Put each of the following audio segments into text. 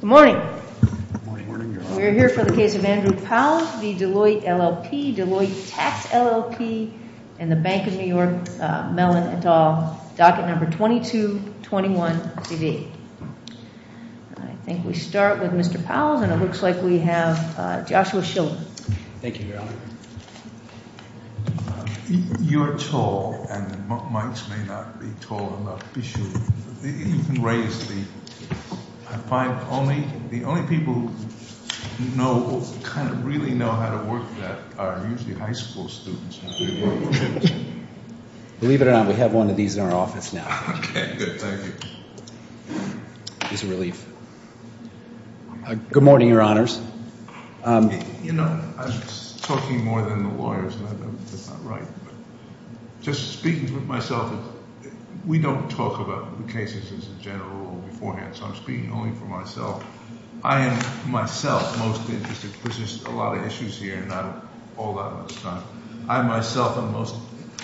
Good morning. Good morning, Your Honor. We are here for the case of Andrew Pauwels v. Deloitte LLP, Deloitte Tax LLP, and the Bank of New York Mellon et al. Docket number 2221-CV. I think we start with Mr. Pauwels, and it looks like we have Joshua Shildon. Thank you, Your Honor. You're tall, and the mics may not be tall enough. You can raise the... I find the only people who really know how to work that are usually high school students. Believe it or not, we have one of these in our office now. Okay, good. Thank you. It's a relief. Good morning, Your Honors. You know, I'm talking more than the lawyers, and I know that's not right, but just speaking for myself, we don't talk about the cases as a general rule beforehand, so I'm speaking only for myself. I am, myself, most interested, because there's a lot of issues here and not all that much time. I, myself, am most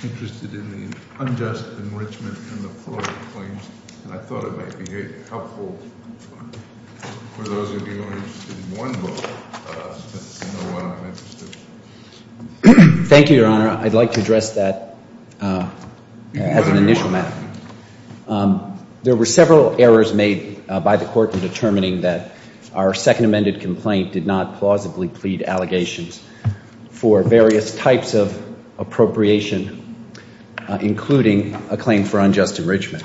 interested in the unjust enrichment and the fraud claims, and I thought it might be helpful for those of you who are interested in one book, since you know what I'm interested in. Thank you, Your Honor. I'd like to address that as an initial matter. There were several errors made by the court in determining that our second amended complaint did not plausibly plead allegations for various types of appropriation, including a claim for unjust enrichment.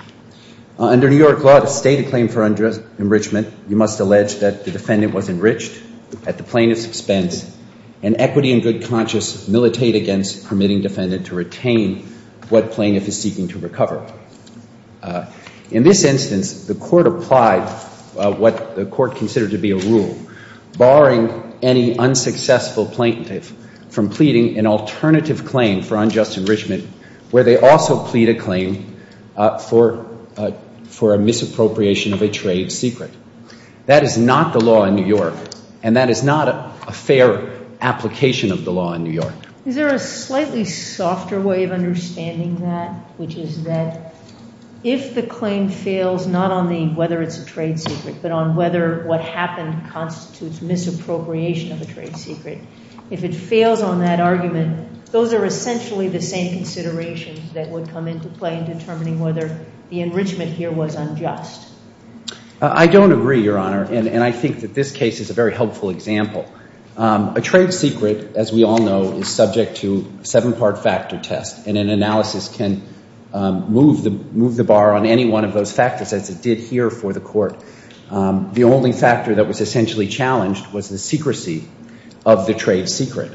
Under New York law to state a claim for unjust enrichment, you must allege that the defendant was enriched at the plaintiff's expense and equity and good conscience militate against permitting defendant to retain what plaintiff is seeking to recover. In this instance, the court applied what the court considered to be a rule, barring any unsuccessful plaintiff from pleading an alternative claim for unjust enrichment, where they also plead a claim for a misappropriation of a trade secret. That is not the law in New York, and that is not a fair application of the law in New York. Is there a slightly softer way of understanding that, which is that if the claim fails, not on the whether it's a trade secret, but on whether what happened constitutes misappropriation of a trade secret, if it fails on that argument, those are essentially the same considerations that would come into play in determining whether the enrichment here was unjust. I don't agree, Your Honor, and I think that this case is a very helpful example. A trade secret, as we all know, is subject to a seven-part factor test, and an analysis can move the bar on any one of those factors, as it did here for the court. The only factor that was essentially challenged was the secrecy of the trade secret.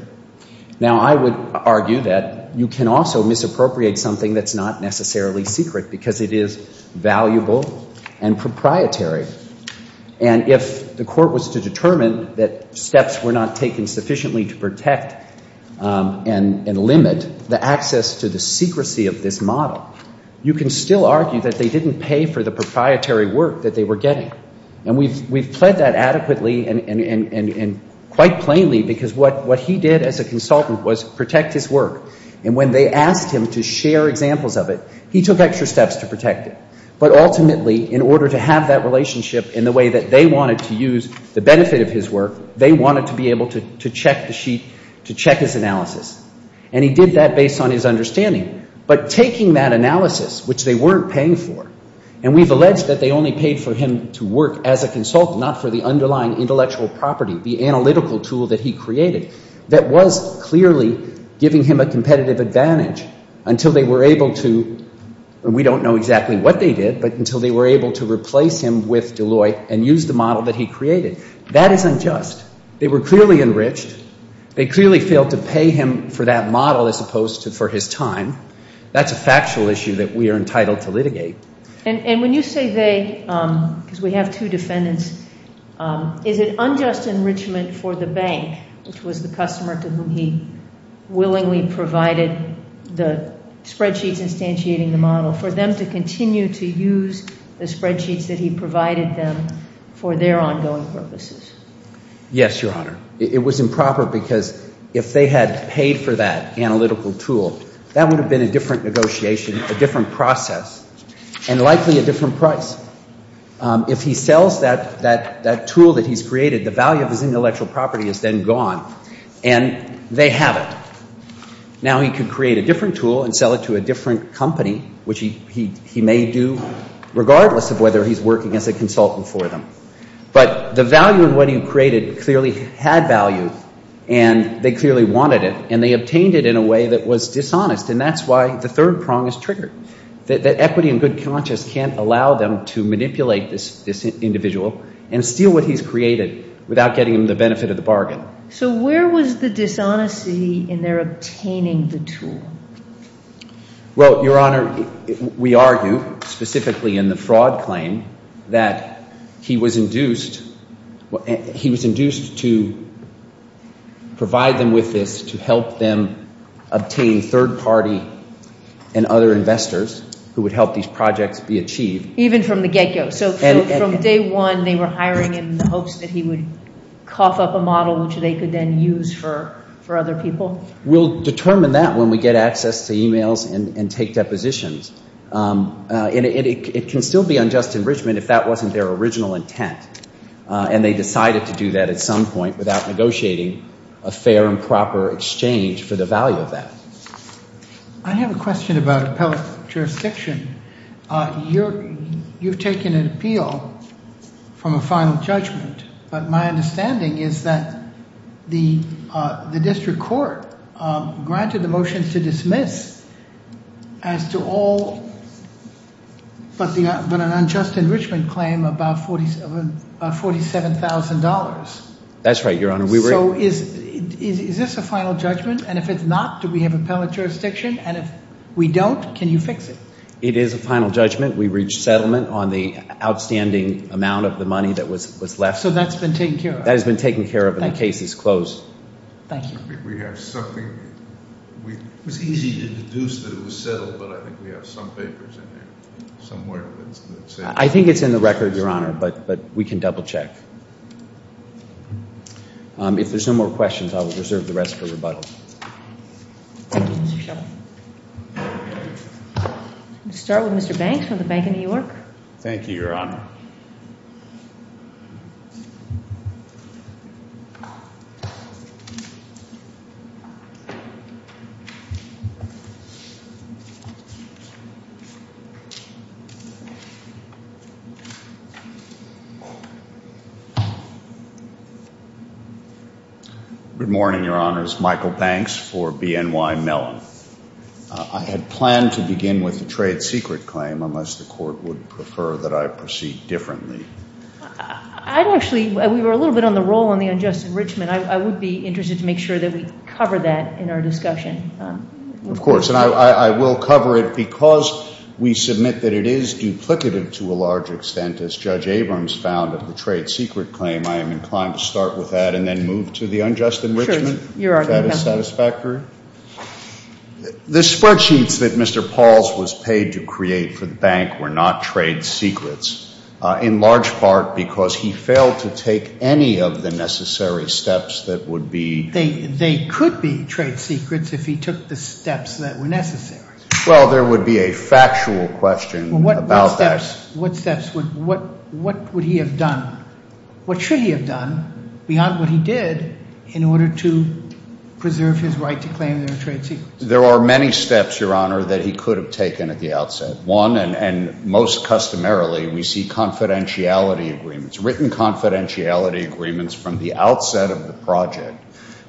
Now, I would argue that you can also misappropriate something that's not necessarily secret because it is valuable and proprietary. And if the court was to determine that steps were not taken sufficiently to protect and limit the access to the secrecy of this model, you can still argue that they didn't pay for the proprietary work that they were getting. And we've pled that adequately and quite plainly because what he did as a consultant was protect his work. And when they asked him to share examples of it, he took extra steps to protect it. But ultimately, in order to have that relationship in the way that they wanted to use the benefit of his work, they wanted to be able to check the sheet, to check his analysis. And he did that based on his understanding. But taking that analysis, which they weren't paying for, and we've alleged that they only paid for him to work as a consultant, not for the underlying intellectual property, the analytical tool that he created, that was clearly giving him a competitive advantage until they were able to and we don't know exactly what they did, but until they were able to replace him with Deloitte and use the model that he created. That is unjust. They were clearly enriched. They clearly failed to pay him for that model as opposed to for his time. That's a factual issue that we are entitled to litigate. And when you say they, because we have two defendants, is it unjust enrichment for the bank, which was the customer to whom he willingly provided the spreadsheets instantiating the model, for them to continue to use the spreadsheets that he provided them for their ongoing purposes? Yes, Your Honor. It was improper because if they had paid for that analytical tool, that would have been a different negotiation, a different process, and likely a different price. If he sells that tool that he's created, the value of his intellectual property is then gone and they have it. Now he could create a different tool and sell it to a different company, which he may do regardless of whether he's working as a consultant for them. But the value in what he created clearly had value and they clearly wanted it and they obtained it in a way that was dishonest, and that's why the third prong is triggered, that equity and good conscience can't allow them to manipulate this individual and steal what he's created without getting them the benefit of the bargain. So where was the dishonesty in their obtaining the tool? Well, Your Honor, we argue specifically in the fraud claim that he was induced to provide them with this to help them obtain third party and other investors who would help these projects be achieved. Even from the get-go? So from day one they were hiring him in the hopes that he would cough up a model which they could then use for other people? We'll determine that when we get access to emails and take depositions. It can still be unjust enrichment if that wasn't their original intent and they decided to do that at some point without negotiating a fair and proper exchange for the value of that. I have a question about appellate jurisdiction. You've taken an appeal from a final judgment, but my understanding is that the district court granted the motions to dismiss as to all but an unjust enrichment claim about $47,000. That's right, Your Honor. So is this a final judgment? And if it's not, do we have appellate jurisdiction? And if we don't, can you fix it? It is a final judgment. We reached settlement on the outstanding amount of the money that was left. So that's been taken care of? That has been taken care of and the case is closed. Thank you. I think we have something. It was easy to deduce that it was settled, but I think we have some papers in there somewhere. I think it's in the record, Your Honor, but we can double-check. If there's no more questions, I will reserve the rest for rebuttal. Thank you, Mr. Sheldon. We'll start with Mr. Banks from the Bank of New York. Thank you, Your Honor. Good morning, Your Honors. Michael Banks for BNY Mellon. I had planned to begin with a trade secret claim unless the court would prefer that I proceed differently. I'd actually, we were a little bit on the roll on the unjust enrichment. And I would be interested to make sure that we cover that in our discussion. Of course. And I will cover it because we submit that it is duplicative to a large extent, as Judge Abrams found of the trade secret claim. I am inclined to start with that and then move to the unjust enrichment. Sure, Your Honor. If that is satisfactory. The spreadsheets that Mr. Pauls was paid to create for the bank were not trade secrets, in large part because he failed to take any of the necessary steps that would be. They could be trade secrets if he took the steps that were necessary. Well, there would be a factual question about that. What steps would, what would he have done? What should he have done beyond what he did in order to preserve his right to claim their trade secrets? There are many steps, Your Honor, that he could have taken at the outset. One, and most customarily, we see confidentiality agreements, written confidentiality agreements from the outset of the project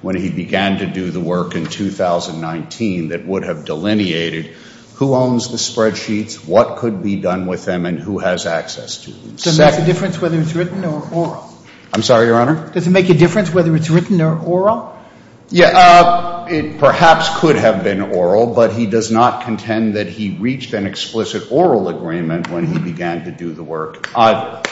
when he began to do the work in 2019 that would have delineated who owns the spreadsheets, what could be done with them, and who has access to them. Does it make a difference whether it's written or oral? I'm sorry, Your Honor? Does it make a difference whether it's written or oral? Yeah, it perhaps could have been oral, but he does not contend that he reached an explicit oral agreement when he began to do the work either.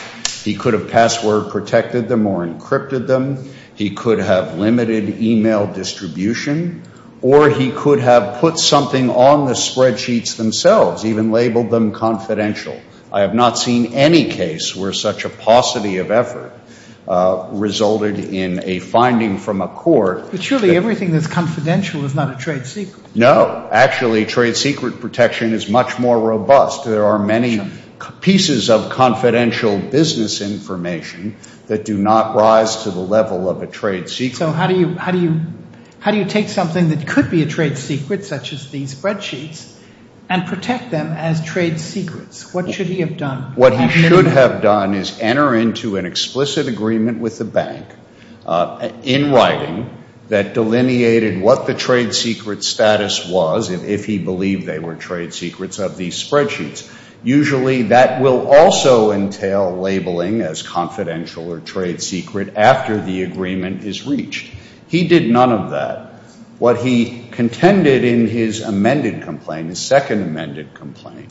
He could have password protected them or encrypted them. He could have limited e-mail distribution, or he could have put something on the spreadsheets themselves, even labeled them confidential. I have not seen any case where such a paucity of effort resulted in a finding from a court. But surely everything that's confidential is not a trade secret. No. Actually, trade secret protection is much more robust. There are many pieces of confidential business information that do not rise to the level of a trade secret. So how do you take something that could be a trade secret, such as these spreadsheets, and protect them as trade secrets? What should he have done? What he should have done is enter into an explicit agreement with the bank, in writing, that delineated what the trade secret status was, if he believed they were trade secrets, of these spreadsheets. Usually that will also entail labeling as confidential or trade secret after the agreement is reached. He did none of that. What he contended in his amended complaint, his second amended complaint,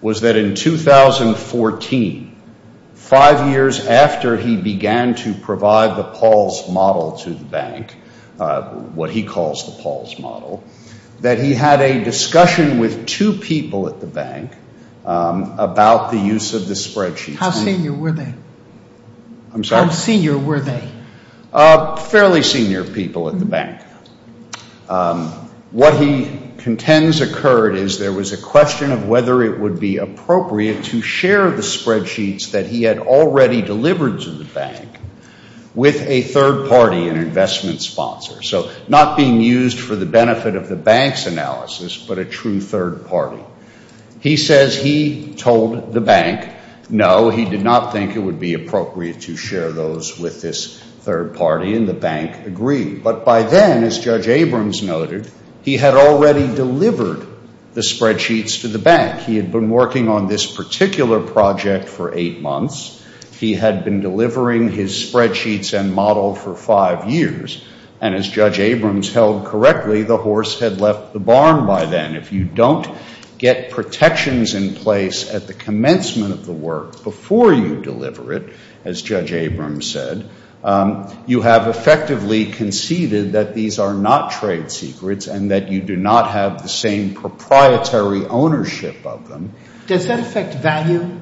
was that in 2014, five years after he began to provide the Paul's model to the bank, what he calls the Paul's model, that he had a discussion with two people at the bank about the use of the spreadsheets. How senior were they? I'm sorry? How senior were they? Fairly senior people at the bank. What he contends occurred is there was a question of whether it would be appropriate to share the spreadsheets that he had already delivered to the bank with a third party, an investment sponsor. So not being used for the benefit of the bank's analysis, but a true third party. He says he told the bank, no, he did not think it would be appropriate to share those with this third party, and the bank agreed. But by then, as Judge Abrams noted, he had already delivered the spreadsheets to the bank. He had been working on this particular project for eight months. He had been delivering his spreadsheets and model for five years. And as Judge Abrams held correctly, the horse had left the barn by then. If you don't get protections in place at the commencement of the work before you deliver it, as Judge Abrams said, you have effectively conceded that these are not trade secrets and that you do not have the same proprietary ownership of them. Does that affect value?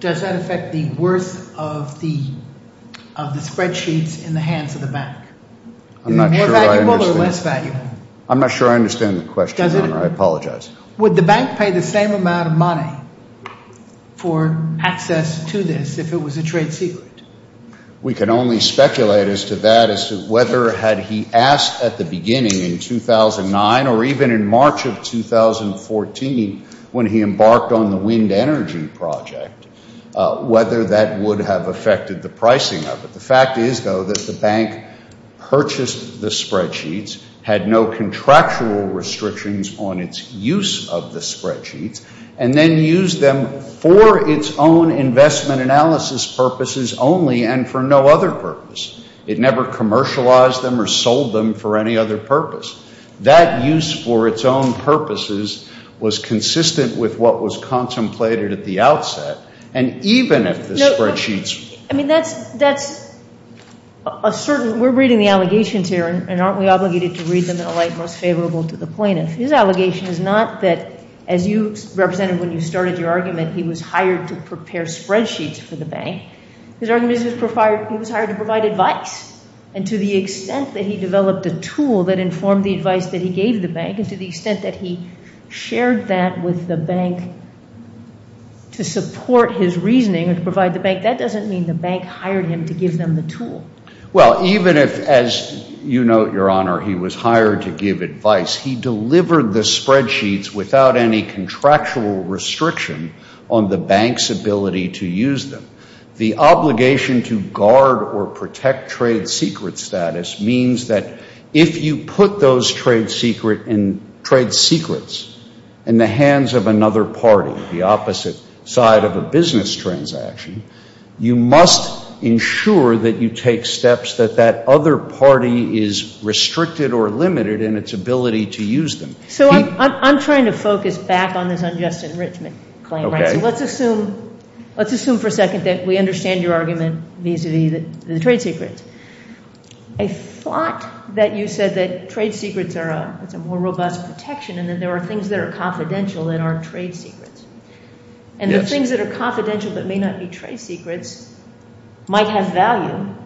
Does that affect the worth of the spreadsheets in the hands of the bank? More valuable or less valuable? I'm not sure I understand the question, Your Honor. I apologize. Would the bank pay the same amount of money for access to this if it was a trade secret? We can only speculate as to that as to whether had he asked at the beginning in 2009 or even in March of 2014 when he embarked on the wind energy project, whether that would have affected the pricing of it. The fact is, though, that the bank purchased the spreadsheets, had no contractual restrictions on its use of the spreadsheets, and then used them for its own investment analysis purposes only and for no other purpose. It never commercialized them or sold them for any other purpose. That use for its own purposes was consistent with what was contemplated at the outset. I mean, that's a certain we're reading the allegations here, and aren't we obligated to read them in a light most favorable to the plaintiff? His allegation is not that, as you represented when you started your argument, he was hired to prepare spreadsheets for the bank. His argument is he was hired to provide advice, and to the extent that he developed a tool that informed the advice that he gave the bank and to the extent that he shared that with the bank to support his reasoning and provide the bank, that doesn't mean the bank hired him to give them the tool. Well, even if, as you note, Your Honor, he was hired to give advice, he delivered the spreadsheets without any contractual restriction on the bank's ability to use them. The obligation to guard or protect trade secret status means that if you put those trade secrets in the hands of another party, the opposite side of a business transaction, you must ensure that you take steps that that other party is restricted or limited in its ability to use them. So I'm trying to focus back on this unjust enrichment claim. Let's assume for a second that we understand your argument vis-à-vis the trade secrets. I thought that you said that trade secrets are a more robust protection and that there are things that are confidential that aren't trade secrets. And the things that are confidential but may not be trade secrets might have value.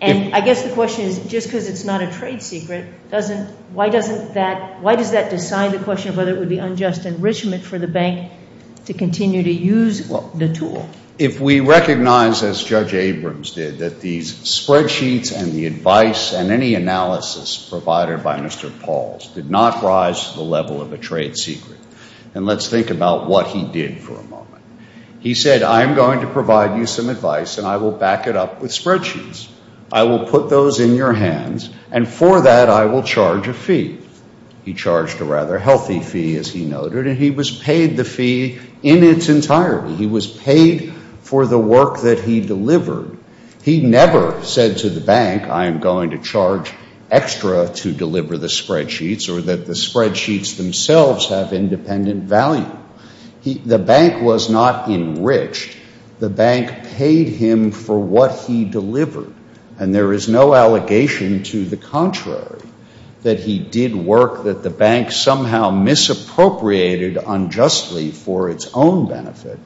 And I guess the question is, just because it's not a trade secret, why does that decide the question of whether it would be unjust enrichment for the bank to continue to use the tool? If we recognize, as Judge Abrams did, that these spreadsheets and the advice and any analysis provided by Mr. Pauls did not rise to the level of a trade secret, then let's think about what he did for a moment. He said, I'm going to provide you some advice and I will back it up with spreadsheets. I will put those in your hands and for that I will charge a fee. He charged a rather healthy fee, as he noted, and he was paid the fee in its entirety. He was paid for the work that he delivered. He never said to the bank, I am going to charge extra to deliver the spreadsheets or that the spreadsheets themselves have independent value. The bank was not enriched. The bank paid him for what he delivered, and there is no allegation to the contrary, that he did work that the bank somehow misappropriated unjustly for its own benefit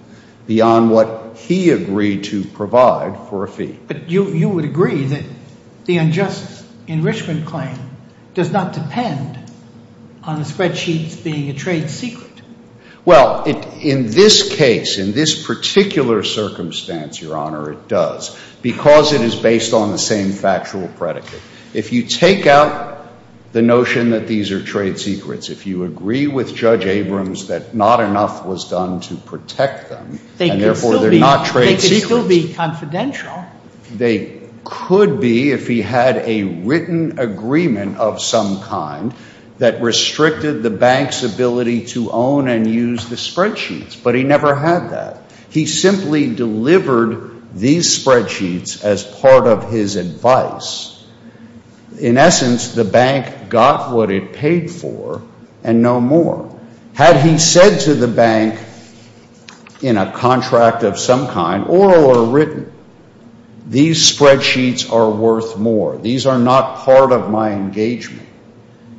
beyond what he agreed to provide for a fee. But you would agree that the unjust enrichment claim does not depend on the spreadsheets being a trade secret. Well, in this case, in this particular circumstance, Your Honor, it does, because it is based on the same factual predicate. If you take out the notion that these are trade secrets, if you agree with Judge Abrams that not enough was done to protect them, and therefore they're not trade secrets. They could still be confidential. They could be if he had a written agreement of some kind that restricted the bank's ability to own and use the spreadsheets, but he never had that. He simply delivered these spreadsheets as part of his advice. In essence, the bank got what it paid for and no more. Had he said to the bank in a contract of some kind, oral or written, these spreadsheets are worth more. These are not part of my engagement.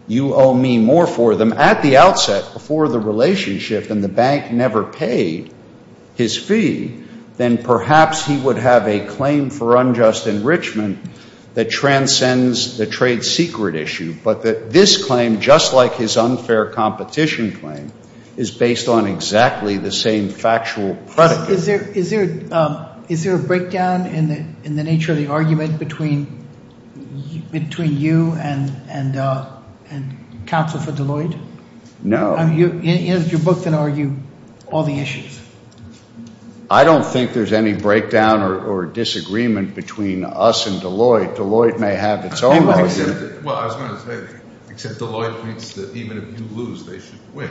You owe me more for them. At the outset, before the relationship and the bank never paid his fee, then perhaps he would have a claim for unjust enrichment that transcends the trade secret issue, but that this claim, just like his unfair competition claim, is based on exactly the same factual predicate. Is there a breakdown in the nature of the argument between you and counsel for Deloitte? No. You're both going to argue all the issues. I don't think there's any breakdown or disagreement between us and Deloitte. Deloitte may have its own argument. Well, I was going to say that, except Deloitte thinks that even if you lose, they should win.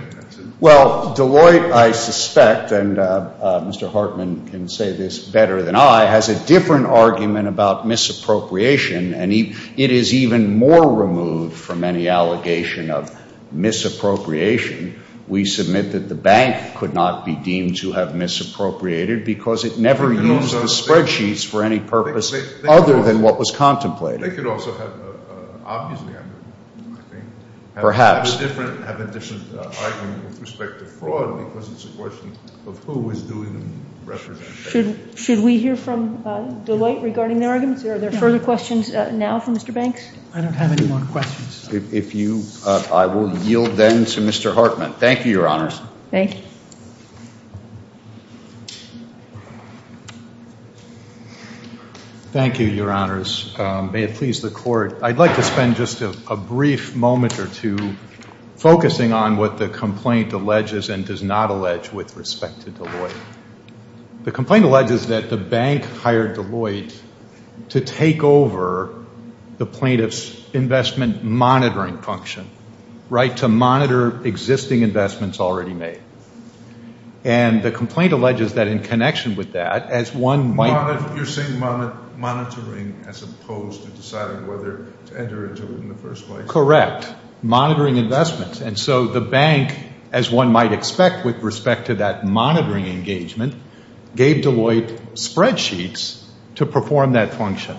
Well, Deloitte, I suspect, and Mr. Hartman can say this better than I, has a different argument about misappropriation, and it is even more removed from any allegation of misappropriation. We submit that the bank could not be deemed to have misappropriated because it never used the spreadsheets for any purpose other than what was contemplated. They could also have a different argument with respect to fraud because it's a question of who was doing the representation. Should we hear from Deloitte regarding their arguments? Are there further questions now from Mr. Banks? I don't have any more questions. I will yield then to Mr. Hartman. Thank you, Your Honors. Thank you. Thank you, Your Honors. May it please the Court, I'd like to spend just a brief moment or two focusing on what the complaint alleges and does not allege with respect to Deloitte. The complaint alleges that the bank hired Deloitte to take over the plaintiff's investment monitoring function, right, to monitor existing investments already made. And the complaint alleges that in connection with that, as one might... You're saying monitoring as opposed to deciding whether to enter into it in the first place. Correct. Monitoring investments. And so the bank, as one might expect with respect to that monitoring engagement, gave Deloitte spreadsheets to perform that function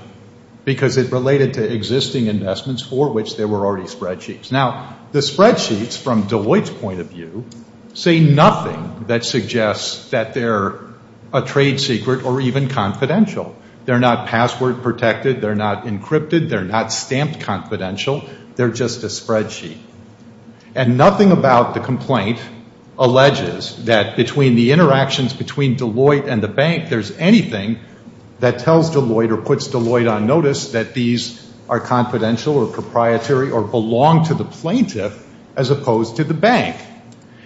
because it related to existing investments for which there were already spreadsheets. Now, the spreadsheets, from Deloitte's point of view, say nothing that suggests that they're a trade secret or even confidential. They're not password protected. They're not encrypted. They're not stamped confidential. They're just a spreadsheet. And nothing about the complaint alleges that between the interactions between Deloitte and the bank, there's anything that tells Deloitte or puts Deloitte on notice that these are confidential or proprietary or belong to the plaintiff as opposed to the bank.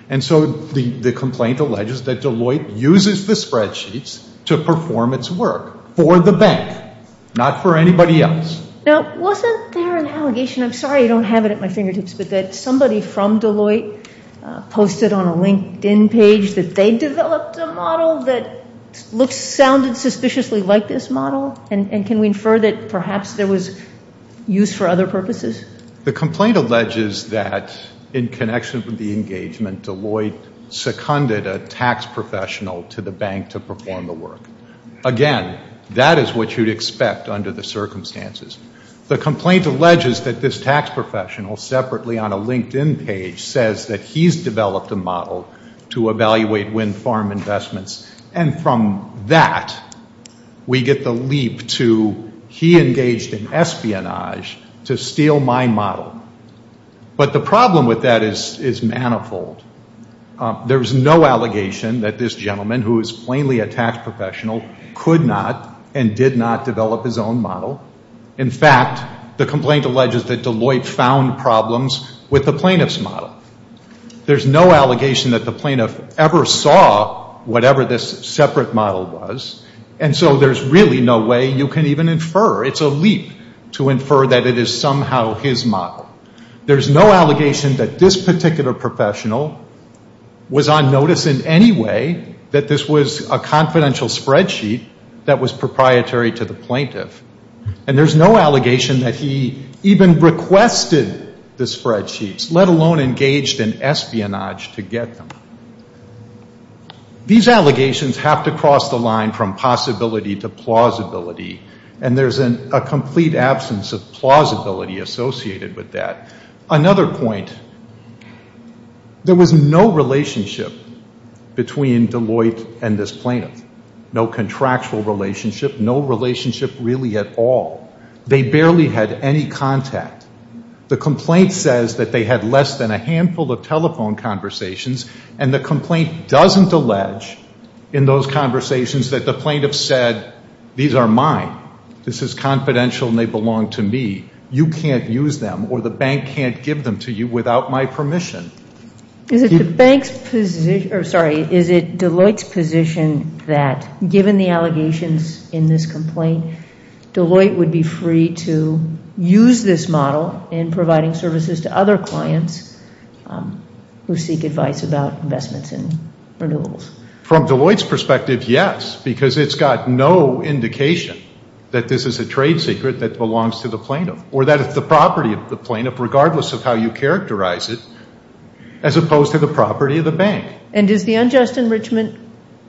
And so the complaint alleges that Deloitte uses the spreadsheets to perform its work for the bank, not for anybody else. Now, wasn't there an allegation? I'm sorry I don't have it at my fingertips, but that somebody from Deloitte posted on a LinkedIn page that they developed a model that sounded suspiciously like this model? And can we infer that perhaps there was use for other purposes? The complaint alleges that in connection with the engagement, Deloitte seconded a tax professional to the bank to perform the work. Again, that is what you'd expect under the circumstances. The complaint alleges that this tax professional separately on a LinkedIn page says that he's developed a model to evaluate wind farm investments, and from that we get the leap to he engaged in espionage to steal my model. But the problem with that is manifold. There's no allegation that this gentleman, who is plainly a tax professional, could not and did not develop his own model. In fact, the complaint alleges that Deloitte found problems with the plaintiff's model. There's no allegation that the plaintiff ever saw whatever this separate model was, and so there's really no way you can even infer. It's a leap to infer that it is somehow his model. There's no allegation that this particular professional was on notice in any way that this was a confidential spreadsheet that was proprietary to the plaintiff. And there's no allegation that he even requested the spreadsheets, let alone engaged in espionage to get them. These allegations have to cross the line from possibility to plausibility, and there's a complete absence of plausibility associated with that. Another point, there was no relationship between Deloitte and this plaintiff, no contractual relationship, no relationship really at all. They barely had any contact. The complaint says that they had less than a handful of telephone conversations, and the complaint doesn't allege in those conversations that the plaintiff said, these are mine, this is confidential and they belong to me, you can't use them or the bank can't give them to you without my permission. Is it Deloitte's position that given the allegations in this complaint, Deloitte would be free to use this model in providing services to other clients who seek advice about investments in renewables? From Deloitte's perspective, yes, because it's got no indication that this is a trade secret that belongs to the plaintiff or that it's the property of the plaintiff regardless of how you characterize it as opposed to the property of the bank. And does the unjust enrichment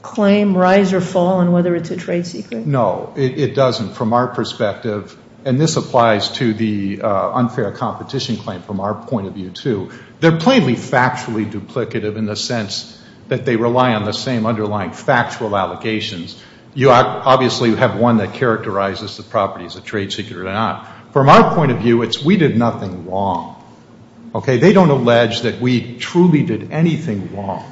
claim rise or fall on whether it's a trade secret? No, it doesn't from our perspective, and this applies to the unfair competition claim from our point of view too. They're plainly factually duplicative in the sense that they rely on the same underlying factual allegations. You obviously have one that characterizes the property as a trade secret or not. From our point of view, it's we did nothing wrong. They don't allege that we truly did anything wrong.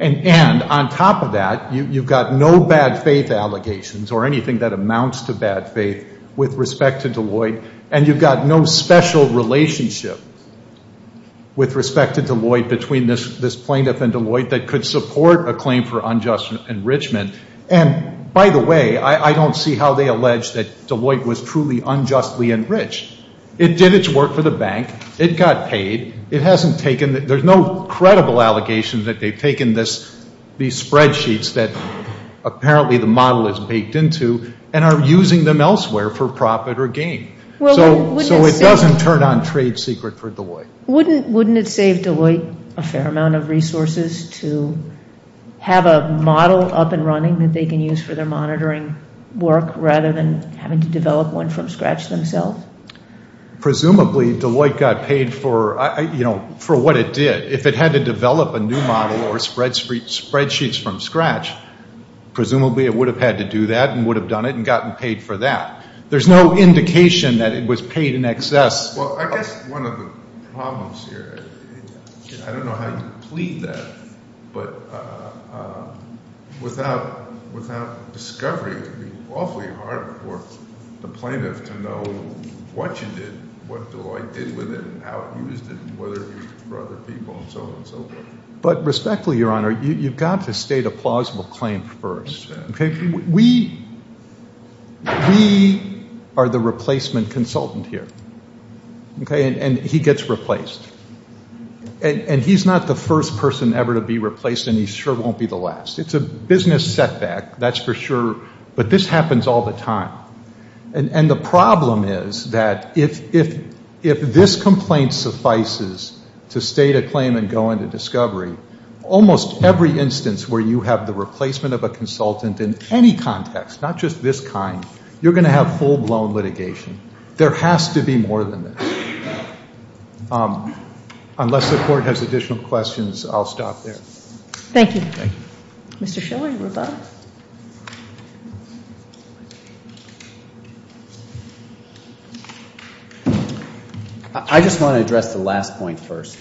And on top of that, you've got no bad faith allegations or anything that amounts to bad faith with respect to Deloitte, and you've got no special relationship with respect to Deloitte between this plaintiff and Deloitte that could support a claim for unjust enrichment. And by the way, I don't see how they allege that Deloitte was truly unjustly enriched. It did its work for the bank. It got paid. There's no credible allegation that they've taken these spreadsheets that apparently the model is baked into and are using them elsewhere for profit or gain. So it doesn't turn on trade secret for Deloitte. Wouldn't it save Deloitte a fair amount of resources to have a model up and running that they can use for their monitoring work rather than having to develop one from scratch themselves? Presumably Deloitte got paid for what it did. If it had to develop a new model or spreadsheets from scratch, presumably it would have had to do that and would have done it and gotten paid for that. There's no indication that it was paid in excess. Well, I guess one of the problems here, I don't know how you plead that, but without discovery, it would be awfully hard for the plaintiff to know what you did, what Deloitte did with it and how it used it and whether it was used for other people and so on and so forth. But respectfully, Your Honor, you've got to state a plausible claim first. We are the replacement consultant here, and he gets replaced. And he's not the first person ever to be replaced, and he sure won't be the last. It's a business setback, that's for sure, but this happens all the time. And the problem is that if this complaint suffices to state a claim and go into discovery, almost every instance where you have the replacement of a consultant in any context, not just this kind, you're going to have full-blown litigation. There has to be more than this. Unless the Court has additional questions, I'll stop there. Thank you. Thank you. Mr. Schiller, you were about? I just want to address the last point first.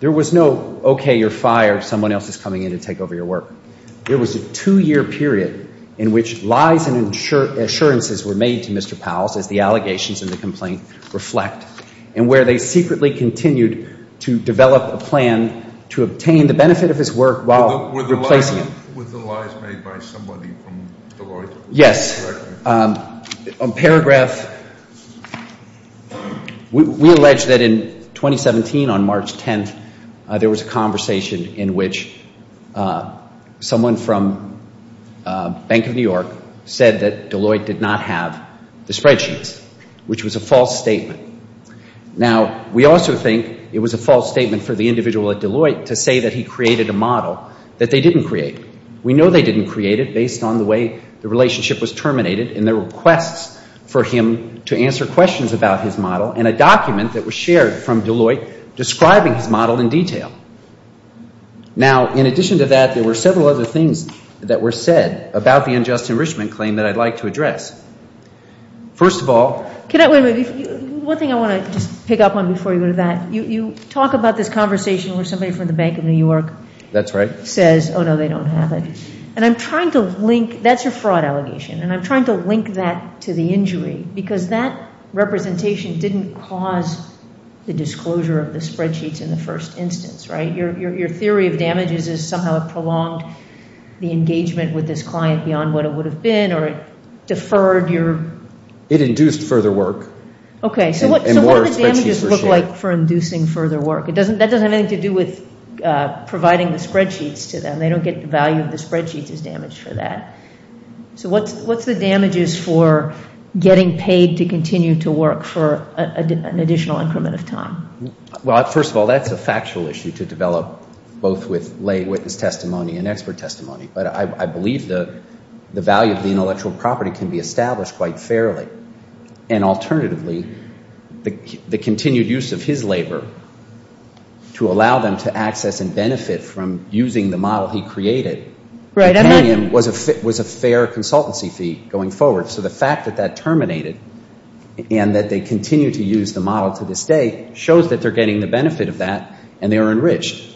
There was no okay, you're fired, someone else is coming in to take over your work. There was a two-year period in which lies and assurances were made to Mr. Powell's, as the allegations in the complaint reflect, and where they secretly continued to develop a plan to obtain the benefit of his work while replacing him. Were the lies made by somebody from Deloitte? Yes. On paragraph, we allege that in 2017 on March 10th, there was a conversation in which someone from Bank of New York said that Deloitte did not have the spreadsheets, which was a false statement. Now, we also think it was a false statement for the individual at Deloitte to say that he created a model that they didn't create. We know they didn't create it based on the way the relationship was terminated and their requests for him to answer questions about his model and a document that was shared from Deloitte describing his model in detail. Now, in addition to that, there were several other things that were said about the unjust enrichment claim that I'd like to address. First of all. One thing I want to just pick up on before you go to that. You talk about this conversation where somebody from the Bank of New York. That's right. Says, oh, no, they don't have it. And I'm trying to link. That's a fraud allegation, and I'm trying to link that to the injury because that representation didn't cause the disclosure of the spreadsheets in the first instance, right? Your theory of damages is somehow it prolonged the engagement with this client beyond what it would have been or it deferred your. It induced further work. Okay. So what did the damages look like for inducing further work? That doesn't have anything to do with providing the spreadsheets to them. They don't get the value of the spreadsheets as damage for that. So what's the damages for getting paid to continue to work for an additional increment of time? Well, first of all, that's a factual issue to develop both with lay witness testimony and expert testimony. But I believe the value of the intellectual property can be established quite fairly. And alternatively, the continued use of his labor to allow them to access and benefit from using the model he created, paying him was a fair consultancy fee going forward. So the fact that that terminated and that they continue to use the model to this day shows that they're getting the benefit of that and they're enriched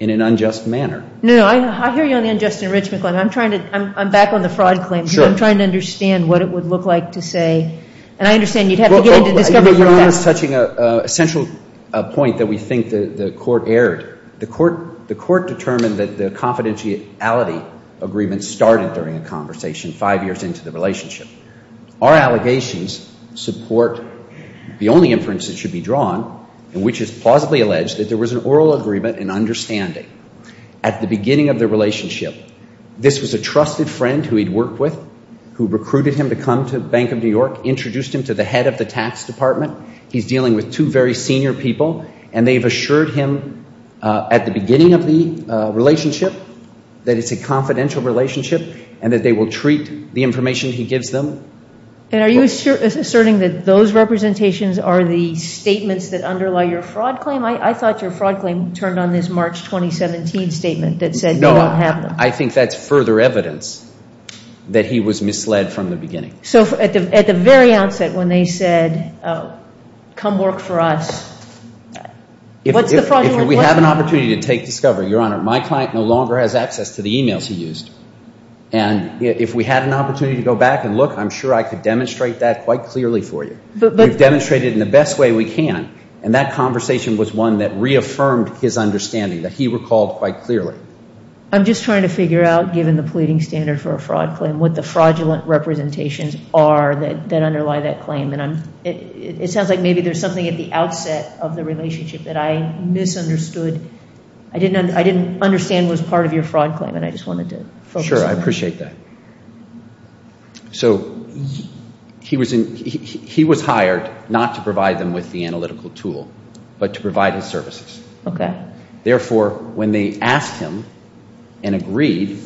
in an unjust manner. No, I hear you on the unjust enrichment claim. I'm back on the fraud claim. I'm trying to understand what it would look like to say. And I understand you'd have to get into discovery for that. Your Honor is touching a central point that we think the court erred. The court determined that the confidentiality agreement started during a conversation five years into the relationship. Our allegations support the only inference that should be drawn, which is plausibly alleged that there was an oral agreement and understanding at the beginning of the relationship. This was a trusted friend who he'd worked with, who recruited him to come to Bank of New York, introduced him to the head of the tax department. He's dealing with two very senior people, and they've assured him at the beginning of the relationship that it's a confidential relationship and that they will treat the information he gives them. And are you asserting that those representations are the statements that underlie your fraud claim? I thought your fraud claim turned on this March 2017 statement that said you don't have them. I think that's further evidence that he was misled from the beginning. So at the very outset when they said, come work for us, what's the fraudulent claim? If we have an opportunity to take discovery, Your Honor, my client no longer has access to the e-mails he used. And if we had an opportunity to go back and look, I'm sure I could demonstrate that quite clearly for you. We've demonstrated it in the best way we can, and that conversation was one that reaffirmed his understanding, that he recalled quite clearly. I'm just trying to figure out, given the pleading standard for a fraud claim, what the fraudulent representations are that underlie that claim. And it sounds like maybe there's something at the outset of the relationship that I misunderstood. I didn't understand what was part of your fraud claim, and I just wanted to focus on that. Sure, I appreciate that. So he was hired not to provide them with the analytical tool, but to provide his services. Okay. Therefore, when they asked him and agreed,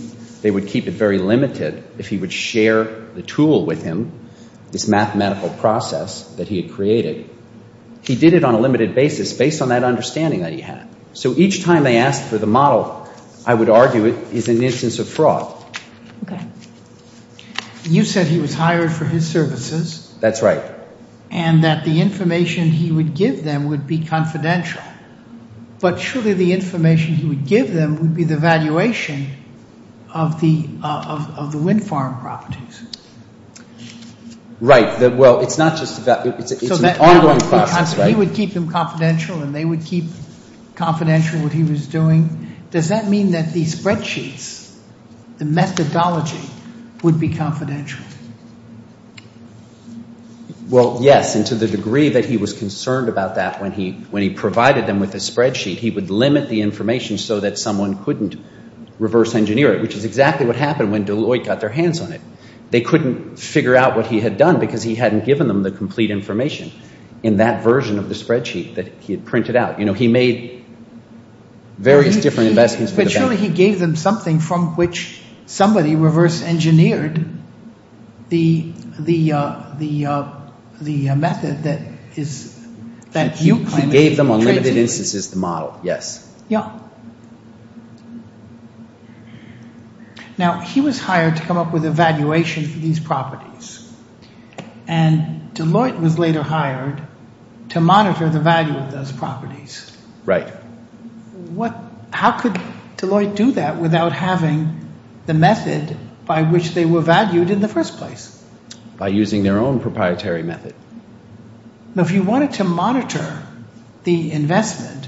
they would keep it very limited if he would share the tool with him, this mathematical process that he had created. He did it on a limited basis based on that understanding that he had. So each time they asked for the model, I would argue it is an instance of fraud. Okay. You said he was hired for his services. That's right. And that the information he would give them would be confidential. But surely the information he would give them would be the valuation of the wind farm properties. Right. Well, it's not just that. It's an ongoing process, right? He would keep them confidential, and they would keep confidential what he was doing. Does that mean that these spreadsheets, the methodology, would be confidential? Well, yes, and to the degree that he was concerned about that when he provided them with a spreadsheet, he would limit the information so that someone couldn't reverse engineer it, which is exactly what happened when Deloitte got their hands on it. They couldn't figure out what he had done because he hadn't given them the complete information in that version of the spreadsheet that he had printed out. You know, he made various different investments. But surely he gave them something from which somebody reverse engineered the method that you claim. He gave them unlimited instances to model, yes. Yeah. Now, he was hired to come up with a valuation for these properties, and Deloitte was later hired to monitor the value of those properties. Right. How could Deloitte do that without having the method by which they were valued in the first place? By using their own proprietary method. Now, if you wanted to monitor the investment,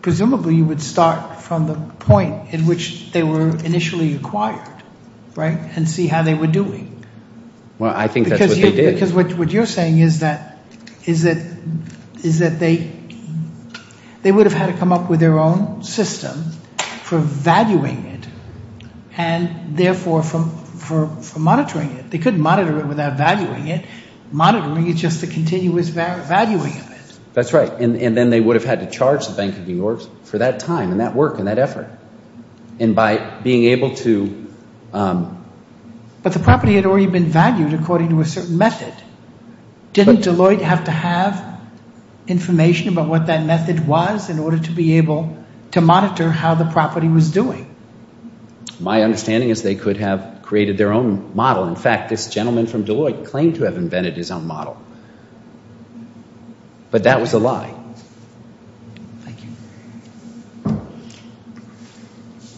presumably you would start from the point in which they were initially acquired, right, and see how they were doing. Well, I think that's what they did. Because what you're saying is that they would have had to come up with their own system for valuing it and therefore for monitoring it. They couldn't monitor it without valuing it. Monitoring is just the continuous valuing of it. That's right. And then they would have had to charge the Bank of New York for that time and that work and that effort. And by being able to – But the property had already been valued according to a certain method. Didn't Deloitte have to have information about what that method was in order to be able to monitor how the property was doing? My understanding is they could have created their own model. In fact, this gentleman from Deloitte claimed to have invented his own model. But that was a lie. Thank you.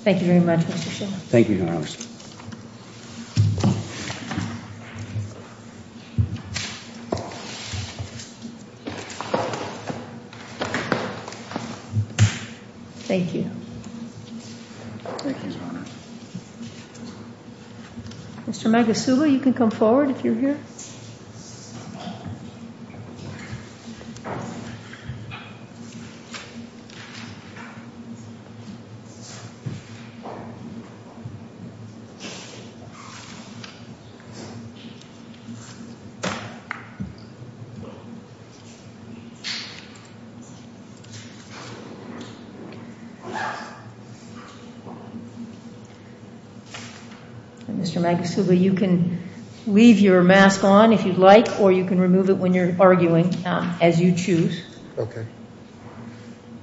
Thank you very much, Mr. Shiller. Thank you, Your Honor. Thank you. Thank you. Mr. Magasuba, you can come forward if you're here. Thank you. Mr. Magasuba, you can leave your mask on if you'd like, or you can remove it when you're arguing, as you choose. Okay.